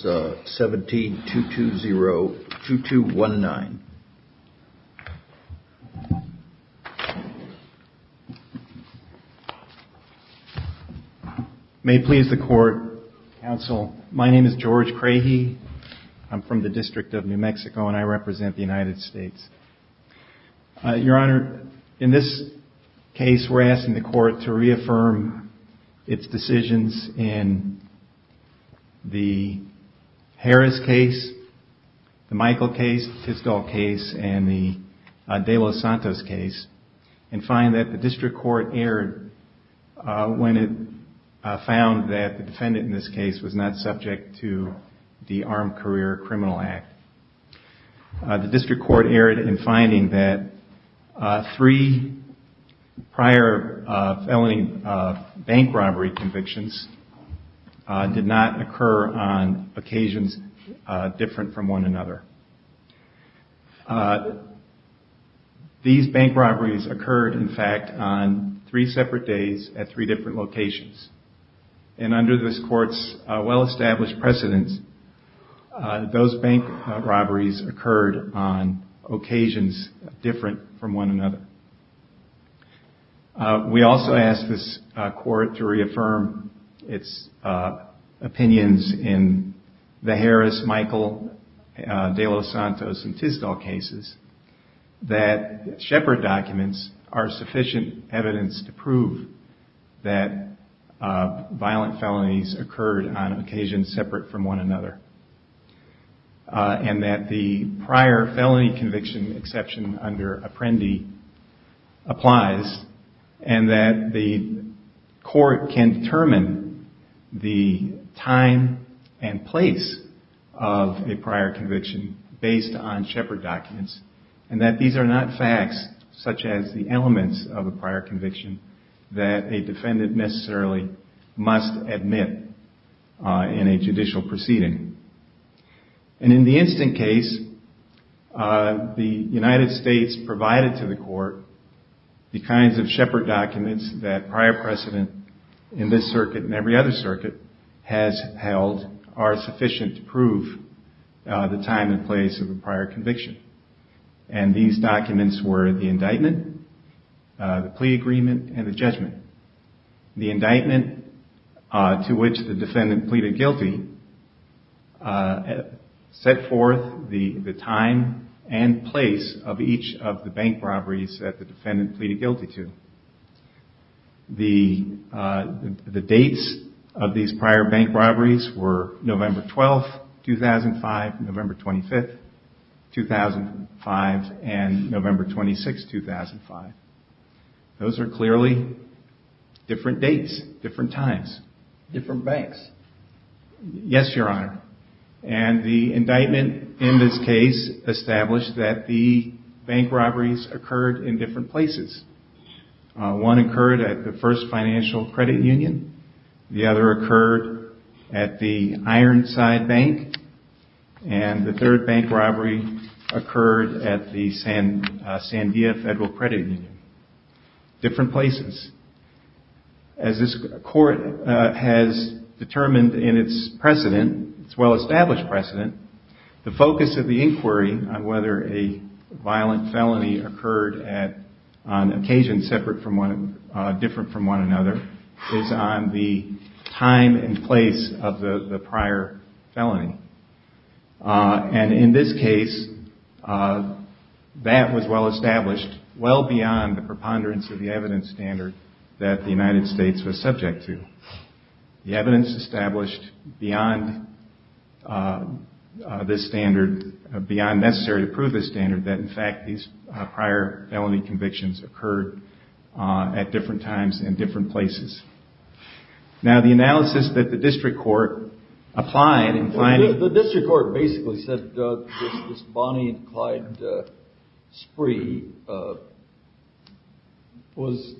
17-220-2219. May it please the Court, Counsel, my name is George Crahey. I'm from the District of New Mexico and I represent the United States. Your Honor, in this case we're asking the Harris case, the Michael case, the Fisgall case, and the De Los Santos case, and find that the District Court erred when it found that the defendant in this case was not subject to the Armed Career Criminal Act. The District Court erred in finding that three prior felony bank robbery convictions did not occur on occasions different from one another. These bank robberies occurred, in fact, on three separate days at three different locations. And under this Court's well-established precedence, those bank robberies occurred on occasions different from one another. We also ask this Court to reaffirm its opinions in the Harris, Michael, De Los Santos, and Fisgall cases that Shepard documents are sufficient evidence to prove that the defendant, violent felonies occurred on occasions separate from one another, and that the prior felony conviction exception under Apprendi applies, and that the Court can determine the time and place of a prior conviction based on Shepard documents, and that these are not facts such as the elements of a prior conviction that a defendant necessarily must admit in a judicial proceeding. And in the Instant case, the United States provided to the Court the kinds of Shepard documents that prior precedent in this circuit and every other circuit has held are sufficient to prove the time and place of a prior conviction. And these documents were the indictment, the plea agreement, and the judgment. The indictment to which the defendant pleaded guilty set forth the time and place of each of the bank robberies that the defendant pleaded guilty to. The dates of these prior bank robberies were November 12, 2005, November 25, 2005, and November 26, 2005. Those are clearly different dates, different times. Different banks. Yes, Your Honor. And the indictment in this case established that the bank robberies occurred in different places. One occurred at the First Financial Credit Union, the other occurred at the Ironside Bank, and the third bank robbery occurred at the Sandia Federal Credit Union. Different places. As this Court has determined in its precedent, its well-established precedent, the focus of the inquiry on whether a violent felony occurred on occasion different from one another is on the time and place of the prior felony. And in this case, that was well-established, well beyond the preponderance of the evidence standard that the United States was subject to. The evidence established beyond this standard, beyond necessary to prove this standard, that in fact these prior felony convictions occurred at different times and different places. Now, the analysis that the District Court applied in finding… The District Court basically said that this Bonnie and Clyde spree was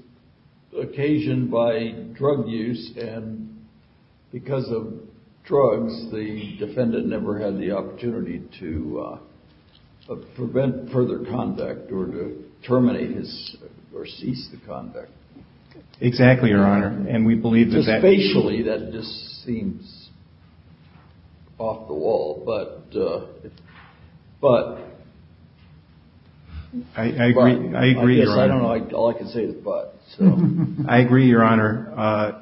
occasioned by drug use, and because of drugs, the defendant never had the opportunity to prevent further conduct or to terminate or cease the conduct. Exactly, Your Honor, and we believe that… Just facially, that just seems off the wall, but… I agree, Your Honor. All I can say is but. I agree, Your Honor.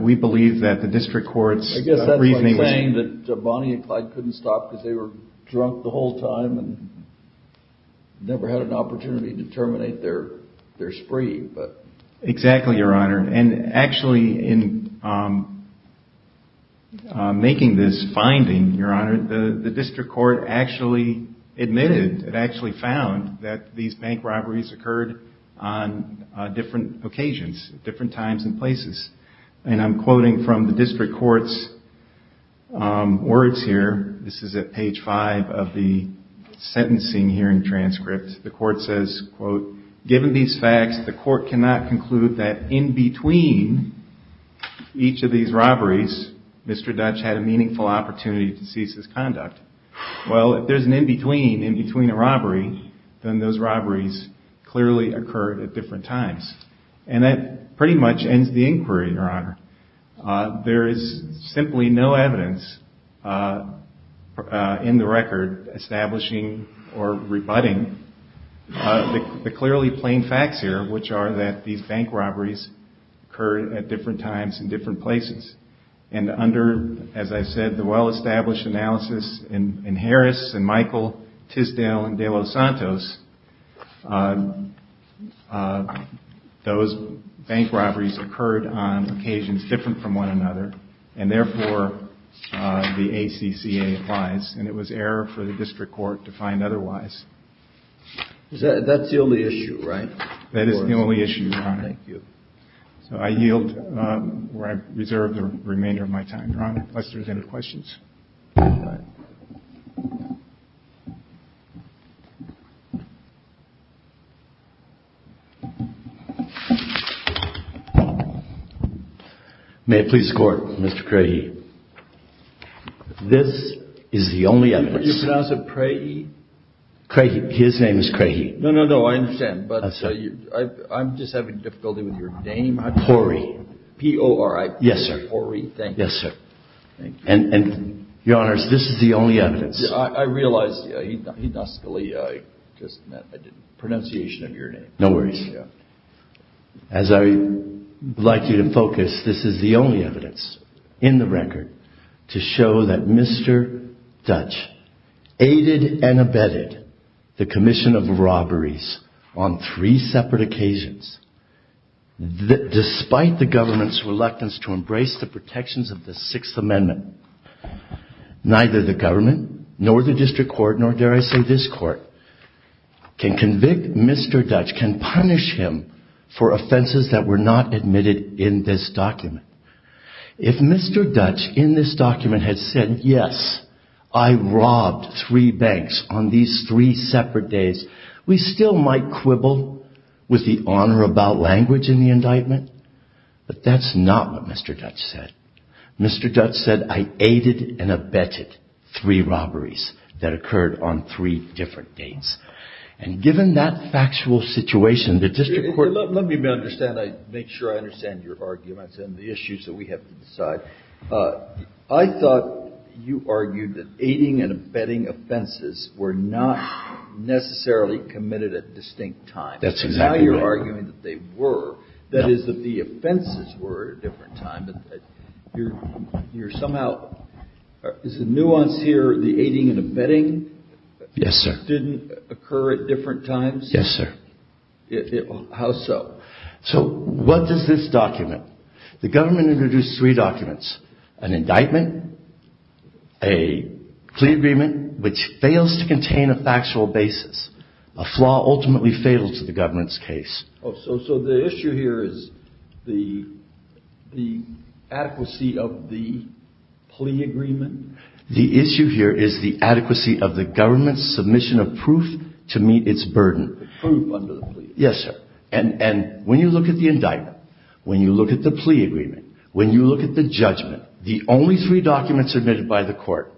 We believe that the District Court's briefings… I'm not saying that Bonnie and Clyde couldn't stop because they were drunk the whole time and never had an opportunity to terminate their spree, but… Exactly, Your Honor, and actually in making this finding, Your Honor, the District Court actually admitted and actually found that these bank robberies occurred on different occasions, different times and places. And I'm quoting from the District Court's words here. This is at page five of the sentencing hearing transcript. The court says, quote, given these facts, the court cannot conclude that in between each of these robberies, Mr. Dutch had a meaningful opportunity to cease his conduct. Well, if there's an in between, in between a robbery, then those robberies clearly occurred at different times. And that pretty much ends the inquiry, Your Honor. There is simply no evidence in the record establishing or rebutting the clearly plain facts here, which are that these bank robberies occurred at different times and different places. And under, as I said, the well-established analysis in Harris and Michael, Tisdale and De Los Santos, those bank robberies occurred on occasions different from one another. And therefore, the ACCA applies, and it was error for the District Court to find otherwise. That's the only issue, right? That is the only issue, Your Honor. Thank you. So I yield, or I reserve the remainder of my time. Your Honor, unless there's any questions. All right. May it please the Court, Mr. Crahey. This is the only evidence. Did you pronounce it Crahey? Crahey. His name is Crahey. No, no, no. I understand. But I'm just having difficulty with your name. Porry. P-O-R-R-Y. Yes, sir. Porry. Thank you. Yes, sir. And, Your Honor, this is the only evidence. I realize that I just mispronounced your name. No worries. As I would like you to focus, this is the only evidence in the record to show that Mr. Dutch aided and abetted the commission of robberies on three separate occasions, despite the government's reluctance to embrace the protections of the Sixth Amendment. Neither the government, nor the district court, nor, dare I say, this court, can convict Mr. Dutch, can punish him for offenses that were not admitted in this document. If Mr. Dutch, in this document, had said, yes, I robbed three banks on these three separate days, we still might quibble with the honor about language in the indictment. But that's not what Mr. Dutch said. Mr. Dutch said, I aided and abetted three robberies that occurred on three different dates. And given that factual situation, the district court Let me make sure I understand your argument and the issues that we have to decide. I thought you argued that aiding and abetting offenses were not necessarily committed at distinct times. That's exactly right. I'm arguing that they were. That is, that the offenses were at a different time. You're somehow, is the nuance here the aiding and abetting? Yes, sir. Didn't occur at different times? Yes, sir. How so? So what does this document? The government introduced three documents, an indictment, a plea agreement, which fails to contain a factual basis. A flaw ultimately fatal to the government's case. So the issue here is the adequacy of the plea agreement? The issue here is the adequacy of the government's submission of proof to meet its burden. Proof under the plea agreement. Yes, sir. And when you look at the indictment, when you look at the plea agreement, when you look at the judgment, the only three documents submitted by the court,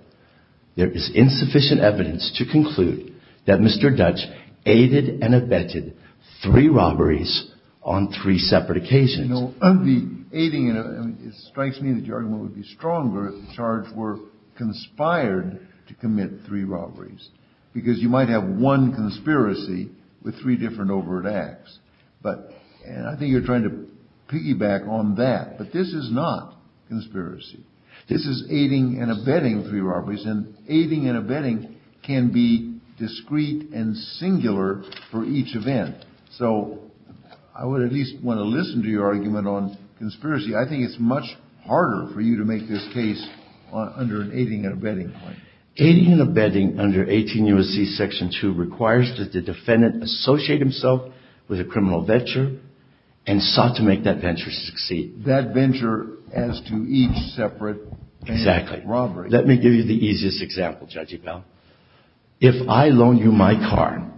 there is insufficient evidence to conclude that Mr. Dutch aided and abetted three robberies on three separate occasions. You know, the aiding and abetting, it strikes me that your argument would be stronger if the charge were conspired to commit three robberies. Because you might have one conspiracy with three different overt acts. But I think you're trying to piggyback on that. But this is not conspiracy. This is aiding and abetting three robberies. And aiding and abetting can be discrete and singular for each event. So I would at least want to listen to your argument on conspiracy. I think it's much harder for you to make this case under an aiding and abetting. Aiding and abetting under 18 U.S.C. Section 2 requires that the defendant associate himself with a criminal venture and sought to make that venture succeed. That venture as to each separate robbery. Exactly. Let me give you the easiest example, Judge Ebell. If I loan you my car,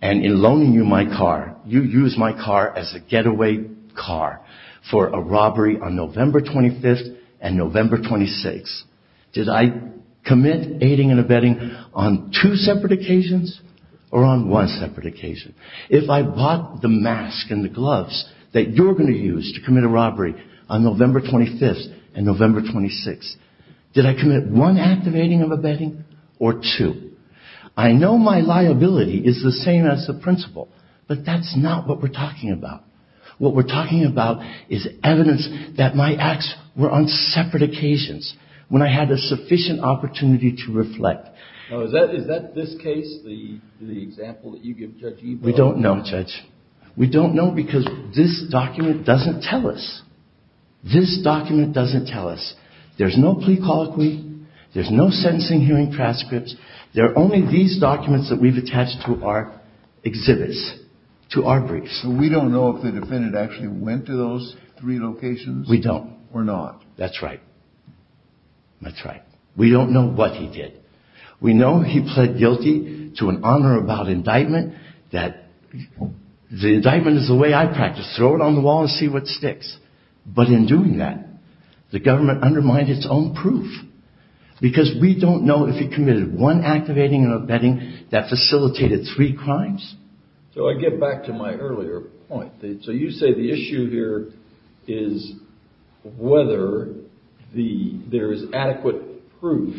and in loaning you my car, you use my car as a getaway car for a robbery on November 25th and November 26th, did I commit aiding and abetting on two separate occasions or on one separate occasion? If I bought the mask and the gloves that you're going to use to commit a robbery on November 25th and November 26th, did I commit one act of aiding and abetting or two? I know my liability is the same as the principal, but that's not what we're talking about. What we're talking about is evidence that my acts were on separate occasions when I had a sufficient opportunity to reflect. Now, is that this case, the example that you give, Judge Ebell? We don't know, Judge. We don't know because this document doesn't tell us. This document doesn't tell us. There's no plea colloquy. There's no sentencing hearing transcripts. There are only these documents that we've attached to our exhibits, to our briefs. We don't know if the defendant actually went to those three locations. We don't. Or not. That's right. That's right. We don't know what he did. We know he pled guilty to an honor about indictment that the indictment is the way I practice, throw it on the wall and see what sticks. But in doing that, the government undermined its own proof because we don't know if he committed one act of aiding and abetting that facilitated three crimes. So I get back to my earlier point. So you say the issue here is whether there is adequate proof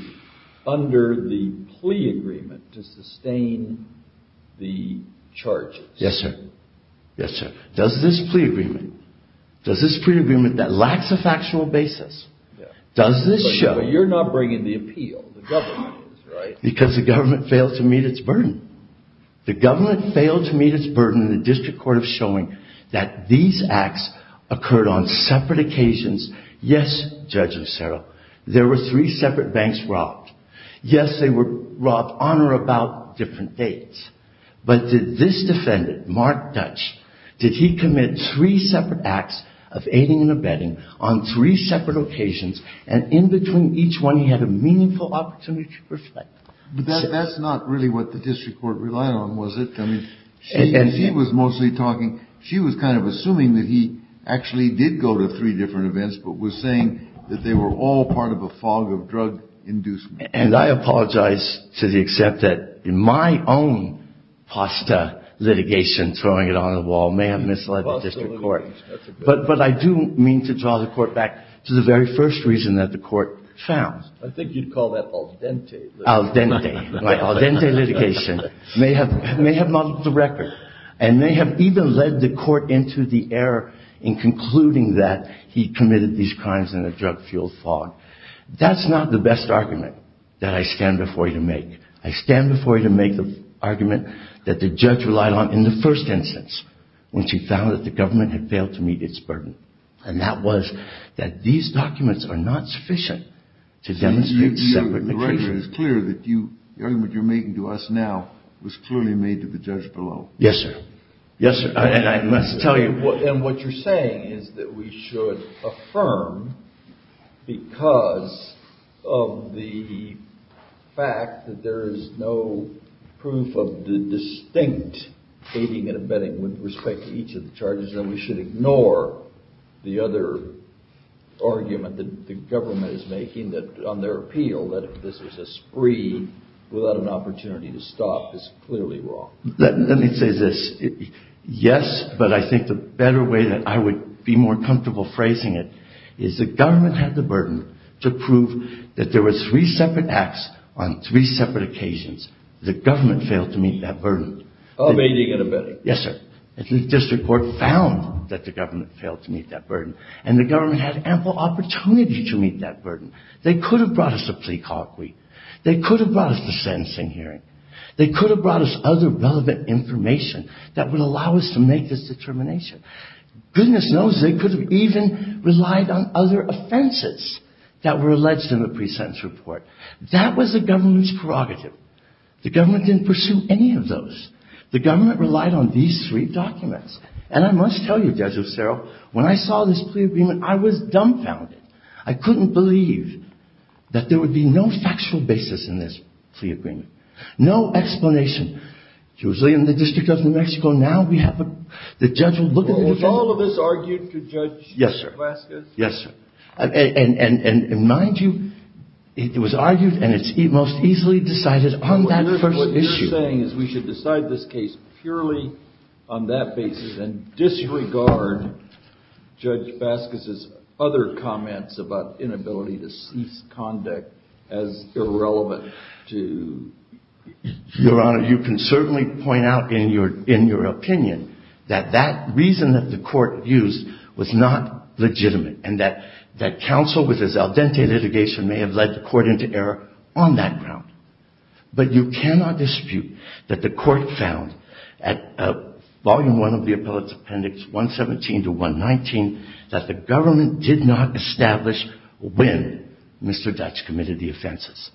under the plea agreement to sustain the charges. Yes, sir. Yes, sir. Does this plea agreement, does this plea agreement that lacks a factual basis, does this show? But you're not bringing the appeal. The government is, right? Because the government failed to meet its burden. The government failed to meet its burden in the district court of showing that these acts occurred on separate occasions. Yes, Judge Lucero, there were three separate banks robbed. Yes, they were robbed on or about different dates. But did this defendant, Mark Dutch, did he commit three separate acts of aiding and abetting on three separate occasions and in between each one he had a meaningful opportunity to reflect? But that's not really what the district court relied on, was it? I mean, she was mostly talking, she was kind of assuming that he actually did go to three different events but was saying that they were all part of a fog of drug inducement. And I apologize to the extent that in my own pasta litigation, throwing it on the wall, may have misled the district court. But I do mean to draw the court back to the very first reason that the court found. I think you'd call that al dente. Al dente. Al dente litigation may have muddled the record and may have even led the court into the error in concluding that he committed these crimes in a drug-fueled fog. That's not the best argument that I stand before you to make. I stand before you to make the argument that the judge relied on in the first instance when she found that the government had failed to meet its burden. And that was that these documents are not sufficient to demonstrate separate locations. The argument you're making to us now was clearly made to the judge below. Yes, sir. Yes, sir. And what you're saying is that we should affirm, because of the fact that there is no proof of the distinct aiding and abetting with respect to each of the charges, that we should ignore the other argument that the government is making on their appeal, that if this was a spree without an opportunity to stop, it's clearly wrong. Let me say this. Yes, but I think the better way that I would be more comfortable phrasing it is the government had the burden to prove that there were three separate acts on three separate occasions. The government failed to meet that burden. Aiding and abetting. Yes, sir. And the district court found that the government failed to meet that burden. And the government had ample opportunity to meet that burden. They could have brought us a plea colloquy. They could have brought us the sentencing hearing. They could have brought us other relevant information that would allow us to make this determination. Goodness knows they could have even relied on other offenses that were alleged in the pre-sentence report. That was the government's prerogative. The government didn't pursue any of those. The government relied on these three documents. And I must tell you, Judge Ostero, when I saw this plea agreement, I was dumbfounded. I couldn't believe that there would be no factual basis in this plea agreement. No explanation. It was in the District of New Mexico. Now the judge will look at it again. Was all of this argued to Judge Vasquez? Yes, sir. Yes, sir. And mind you, it was argued and it was most easily decided on that first issue. What you're saying is we should decide this case purely on that basis and disregard Judge Vasquez's other comments about inability to cease conduct as irrelevant to... Your Honor, you can certainly point out in your opinion that that reason that the court used was not legitimate and that counsel with his al dente litigation may have led the court into error on that ground. But you cannot dispute that the court found at Volume I of the Appellate Appendix 117 to 119 that the government did not establish when Mr. Dutch committed the offenses.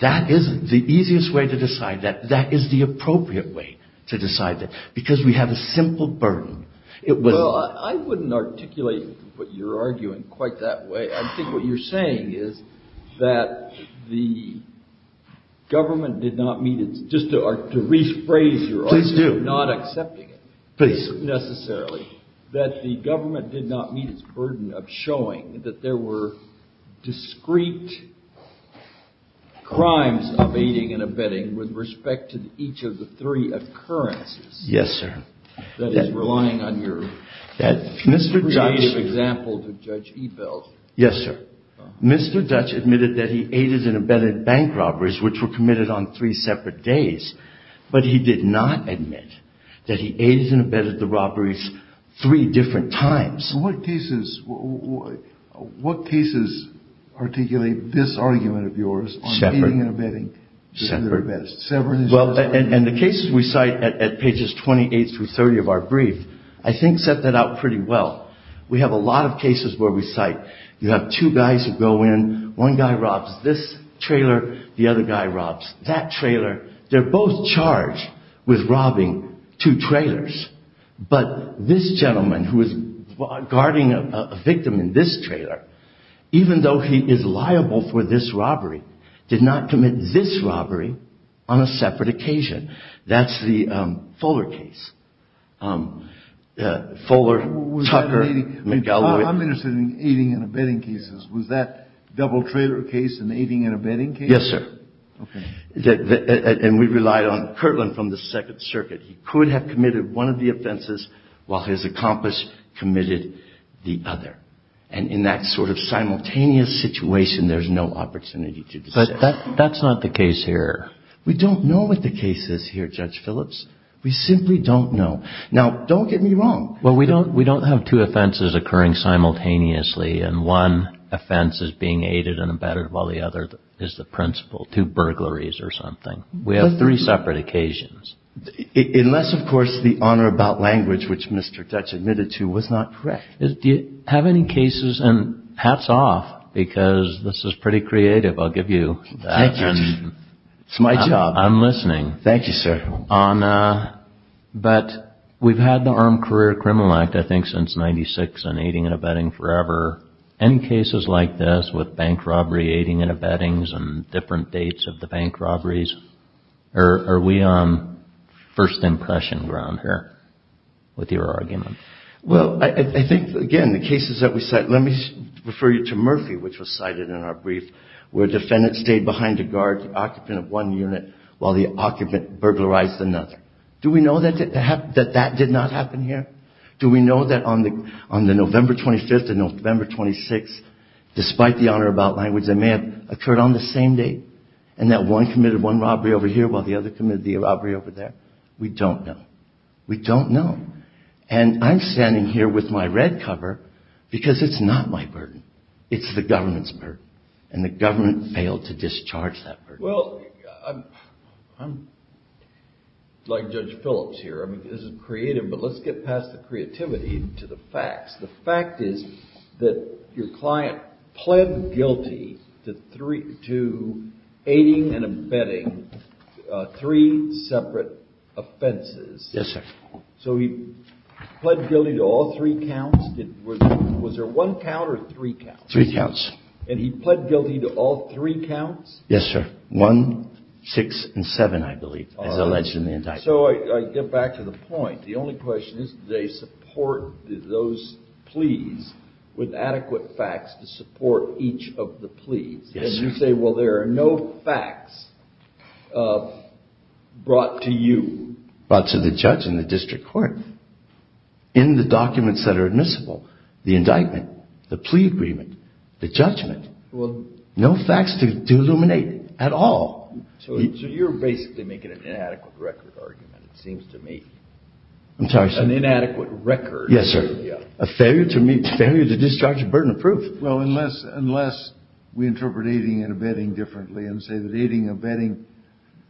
That is the easiest way to decide that. That is the appropriate way to decide that because we have a simple burden. It was... Well, I wouldn't articulate what you're arguing quite that way. I think what you're saying is that the government did not meet its... Just to rephrase your argument... Please do. ...not accepting it... Please. ...necessarily, that the government did not meet its burden of showing that there were discrete crimes of aiding and abetting with respect to each of the three occurrences... Yes, sir. ...that is relying on your creative example to Judge Ebel. Yes, sir. Mr. Dutch admitted that he aided and abetted bank robberies which were committed on three separate days, but he did not admit that he aided and abetted the robberies three different times. What cases articulate this argument of yours... ...on aiding and abetting... Separate. And the cases we cite at pages 28 through 30 of our brief, I think set that out pretty well. We have a lot of cases where we cite you have two guys who go in. One guy robs this trailer. The other guy robs that trailer. They're both charged with robbing two trailers, but this gentleman who is guarding a victim in this trailer, even though he is liable for this robbery, did not commit this robbery on a separate occasion. That's the Fuller case. Fuller, Tucker... I'm interested in aiding and abetting cases. Was that double trailer case an aiding and abetting case? Yes, sir. Okay. And we relied on Kirtland from the Second Circuit. He could have committed one of the offenses while his accomplice committed the other. And in that sort of simultaneous situation, there's no opportunity to decide. But that's not the case here. We don't know what the case is here, Judge Phillips. We simply don't know. Now, don't get me wrong. Well, we don't have two offenses occurring simultaneously, and one offense is being aided and abetted, while the other is the principle, two burglaries or something. We have three separate occasions. Unless, of course, the honor about language, which Mr. Dutch admitted to, was not correct. Do you have any cases? And hats off, because this is pretty creative. I'll give you that. Thank you. It's my job. I'm listening. Thank you, sir. But we've had the Armed Career Criminal Act, I think, since 1996, and aiding and abetting forever. Any cases like this with bank robbery, aiding and abettings, and different dates of the bank robberies? Are we on first impression ground here with your argument? Well, I think, again, the cases that we cite, let me refer you to Murphy, which was cited in our brief, where a defendant stayed behind a guard, the occupant of one unit, while the occupant burglarized another. Do we know that that did not happen here? Do we know that on the November 25th and November 26th, despite the honor about language that may have occurred on the same date, and that one committed one robbery over here while the other committed the robbery over there? We don't know. We don't know. And I'm standing here with my red cover because it's not my burden. It's the government's burden, and the government failed to discharge that burden. Well, I'm like Judge Phillips here. I mean, this is creative, but let's get past the creativity to the facts. The fact is that your client pled guilty to aiding and abetting three separate offenses. Yes, sir. So he pled guilty to all three counts. Was there one count or three counts? Three counts. And he pled guilty to all three counts? Yes, sir. One, six, and seven, I believe, as alleged in the indictment. All right. So I get back to the point. The only question is, did they support those pleas with adequate facts to support each of the pleas? Yes, sir. And you say, well, there are no facts brought to you. Brought to the judge and the district court. In the documents that are admissible, the indictment, the plea agreement, the judgment, no facts to illuminate at all. So you're basically making an inadequate record argument, it seems to me. I'm sorry, sir. An inadequate record. Yes, sir. A failure to discharge a burden of proof. Well, unless we interpret aiding and abetting differently and say that aiding and abetting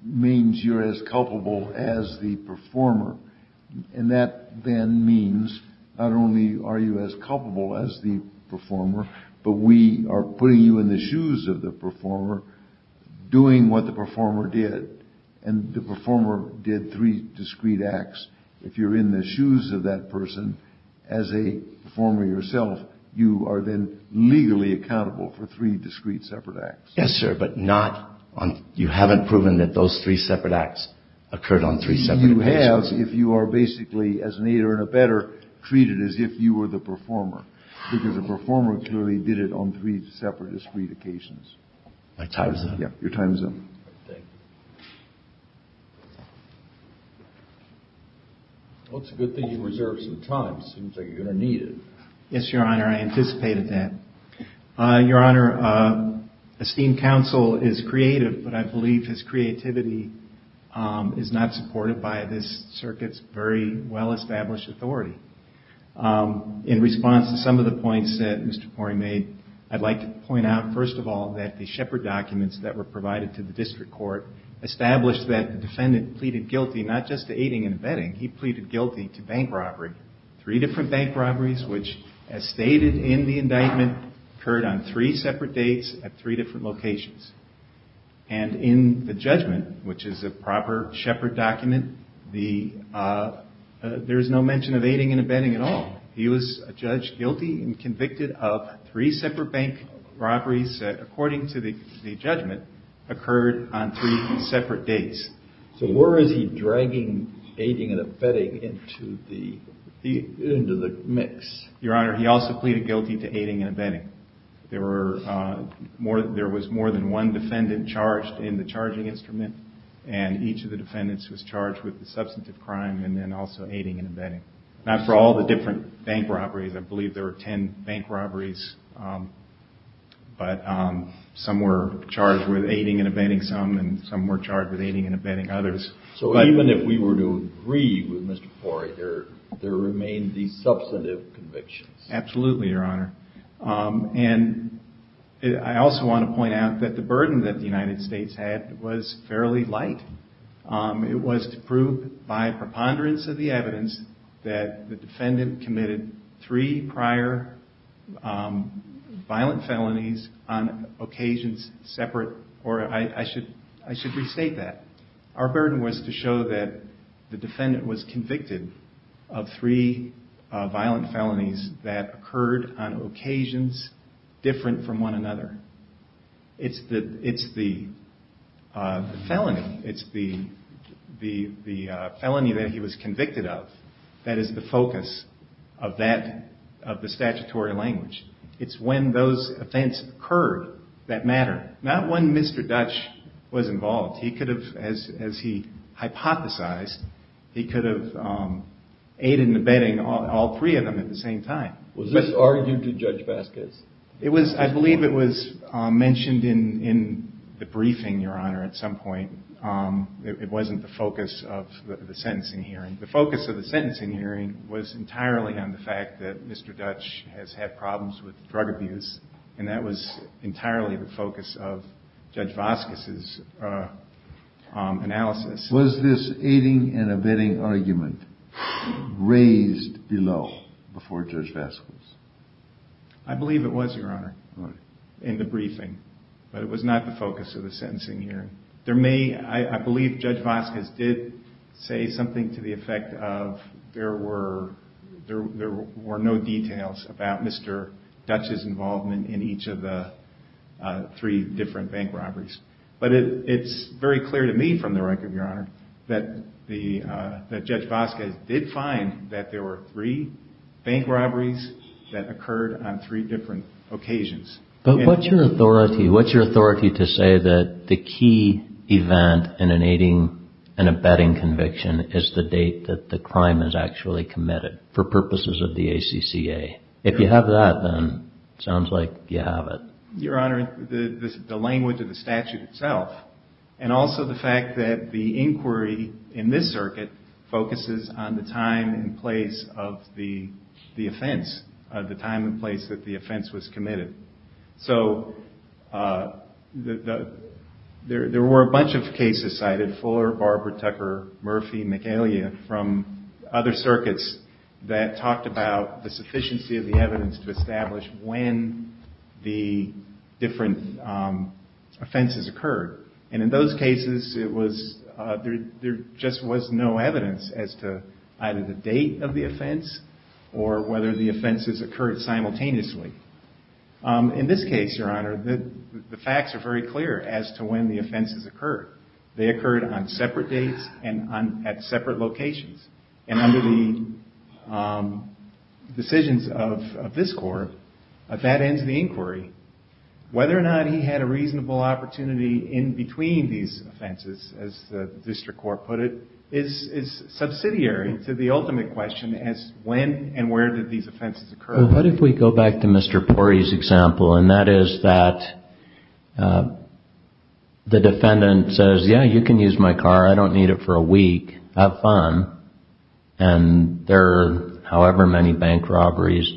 means you're as culpable as the performer. And that then means not only are you as culpable as the performer, but we are putting you in the shoes of the performer, doing what the performer did. And the performer did three discrete acts. If you're in the shoes of that person as a performer yourself, you are then legally accountable for three discrete separate acts. Yes, sir. But not on you haven't proven that those three separate acts occurred on three separate occasions. You have if you are basically as an aider and abetter treated as if you were the performer. Because the performer clearly did it on three separate discrete occasions. My time is up. Your time is up. Thank you. Well, it's a good thing you reserved some time. Seems like you're going to need it. Yes, Your Honor. I anticipated that. Your Honor, esteemed counsel is creative, but I believe his creativity is not supported by this circuit's very well-established authority. In response to some of the points that Mr. Pori made, I'd like to point out first of all that the Shepard documents that were provided to the District Court established that the defendant pleaded guilty not just to aiding and abetting, he pleaded guilty to bank robbery. Three different bank robberies, which as stated in the indictment, occurred on three separate dates at three different locations. And in the judgment, which is a proper Shepard document, there is no mention of aiding and abetting at all. He was judged guilty and convicted of three separate bank robberies, according to the judgment, occurred on three separate dates. So where is he dragging aiding and abetting into the mix? Your Honor, he also pleaded guilty to aiding and abetting. There was more than one defendant charged in the charging instrument, and each of the defendants was charged with the substantive crime and then also aiding and abetting. Now for all the different bank robberies, I believe there were ten bank robberies, but some were charged with aiding and abetting some, and some were charged with aiding and abetting others. So even if we were to agree with Mr. Pori, there remain the substantive convictions? Absolutely, Your Honor. And I also want to point out that the burden that the United States had was fairly light. It was to prove, by preponderance of the evidence, that the defendant committed three prior violent felonies on occasions separate. Or I should restate that. Our burden was to show that the defendant was convicted of three violent felonies that occurred on occasions different from one another. It's the felony that he was convicted of that is the focus of the statutory language. It's when those events occurred that matter. Not when Mr. Dutch was involved. He could have, as he hypothesized, he could have aided and abetting all three of them at the same time. Was this argued to Judge Vasquez? I believe it was mentioned in the briefing, Your Honor, at some point. It wasn't the focus of the sentencing hearing. The focus of the sentencing hearing was entirely on the fact that Mr. Dutch has had problems with drug abuse. And that was entirely the focus of Judge Vasquez's analysis. Was this aiding and abetting argument raised below before Judge Vasquez? I believe it was, Your Honor, in the briefing. But it was not the focus of the sentencing hearing. I believe Judge Vasquez did say something to the effect of there were no details about Mr. Dutch's involvement in each of the three different bank robberies. But it's very clear to me, from the record, Your Honor, that Judge Vasquez did find that there were three bank robberies that occurred on three different occasions. But what's your authority to say that the key event in an aiding and abetting conviction is the date that the crime is actually committed, for purposes of the ACCA? If you have that, then it sounds like you have it. Your Honor, the language of the statute itself, and also the fact that the inquiry in this circuit focuses on the time and place of the offense, the time and place that the offense was committed. So there were a bunch of cases cited, Fuller, Barber, Tucker, Murphy, McElia, from other circuits, that talked about the sufficiency of the evidence to establish when the different offenses occurred. And in those cases, there just was no evidence as to either the date of the offense or whether the offenses occurred simultaneously. In this case, Your Honor, the facts are very clear as to when the offenses occurred. They occurred on separate dates and at separate locations. And under the decisions of this Court, that ends the inquiry. Whether or not he had a reasonable opportunity in between these offenses, as the district court put it, is subsidiary to the ultimate question as to when and where did these offenses occur. Well, what if we go back to Mr. Pori's example, and that is that the defendant says, yeah, you can use my car, I don't need it for a week, have fun, and there are however many bank robberies,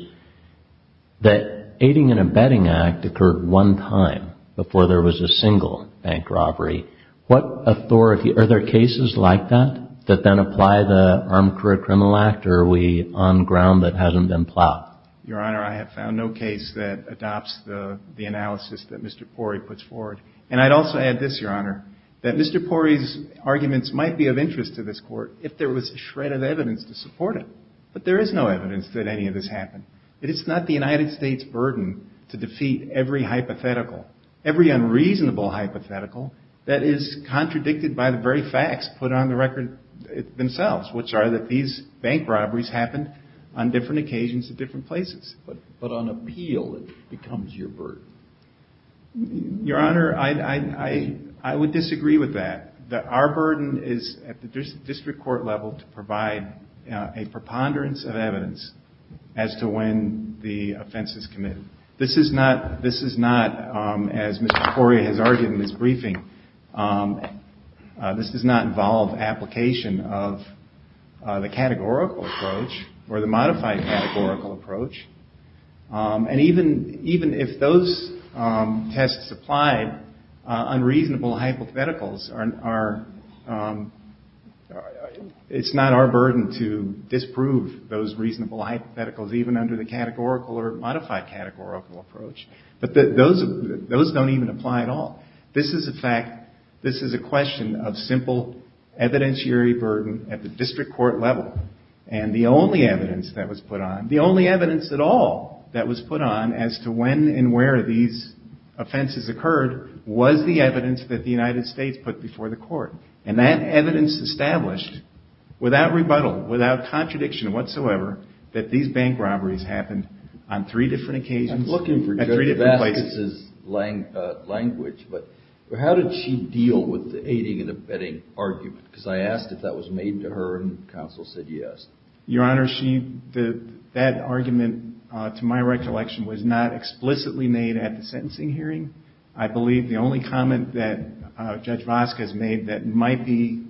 that aiding and abetting act occurred one time before there was a single bank robbery. Are there cases like that that then apply the Armed Career Criminal Act, or are we on ground that hasn't been plowed? Your Honor, I have found no case that adopts the analysis that Mr. Pori puts forward. And I'd also add this, Your Honor, that Mr. Pori's arguments might be of interest to this Court if there was a shred of evidence to support it, but there is no evidence that any of this happened. It is not the United States' burden to defeat every hypothetical, every unreasonable hypothetical, that is contradicted by the very facts put on the record themselves, which are that these bank robberies happened on different occasions at different places. But on appeal, it becomes your burden. Your Honor, I would disagree with that. Our burden is at the district court level to provide a preponderance of evidence as to when the offense is committed. This is not, as Mr. Pori has argued in his briefing, this does not involve application of the categorical approach or the modified categorical approach. And even if those tests apply, unreasonable hypotheticals are, it's not our burden to disprove those reasonable hypotheticals, even under the categorical or modified categorical approach. But those don't even apply at all. This is a question of simple evidentiary burden at the district court level. And the only evidence that was put on, the only evidence at all that was put on as to when and where these offenses occurred was the evidence that the United States put before the court. And that evidence established, without rebuttal, without contradiction whatsoever, that these bank robberies happened on three different occasions at three different places. I'm looking for Judge Vasquez's language, but how did she deal with the aiding and abetting argument? Because I asked if that was made to her, and counsel said yes. Your Honor, that argument, to my recollection, was not explicitly made at the sentencing hearing. I believe the only comment that Judge Vasquez made that might be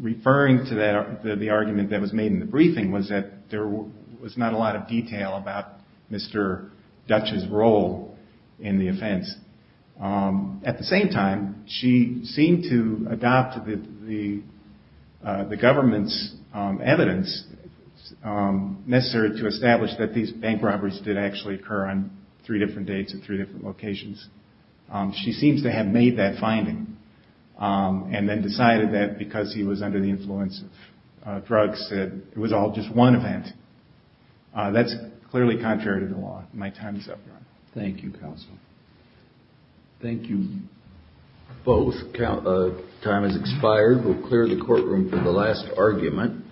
referring to the argument that was made in the briefing was that there was not a lot of detail about Mr. Dutch's role in the offense. At the same time, she seemed to adopt the government's evidence necessary to establish that these bank robberies did actually occur on three different dates at three different locations. She seems to have made that finding and then decided that because he was under the influence of drugs, that it was all just one event. That's clearly contrary to the law. My time is up, Your Honor. Thank you, counsel. Thank you, both. Time has expired. We'll clear the courtroom for the last argument.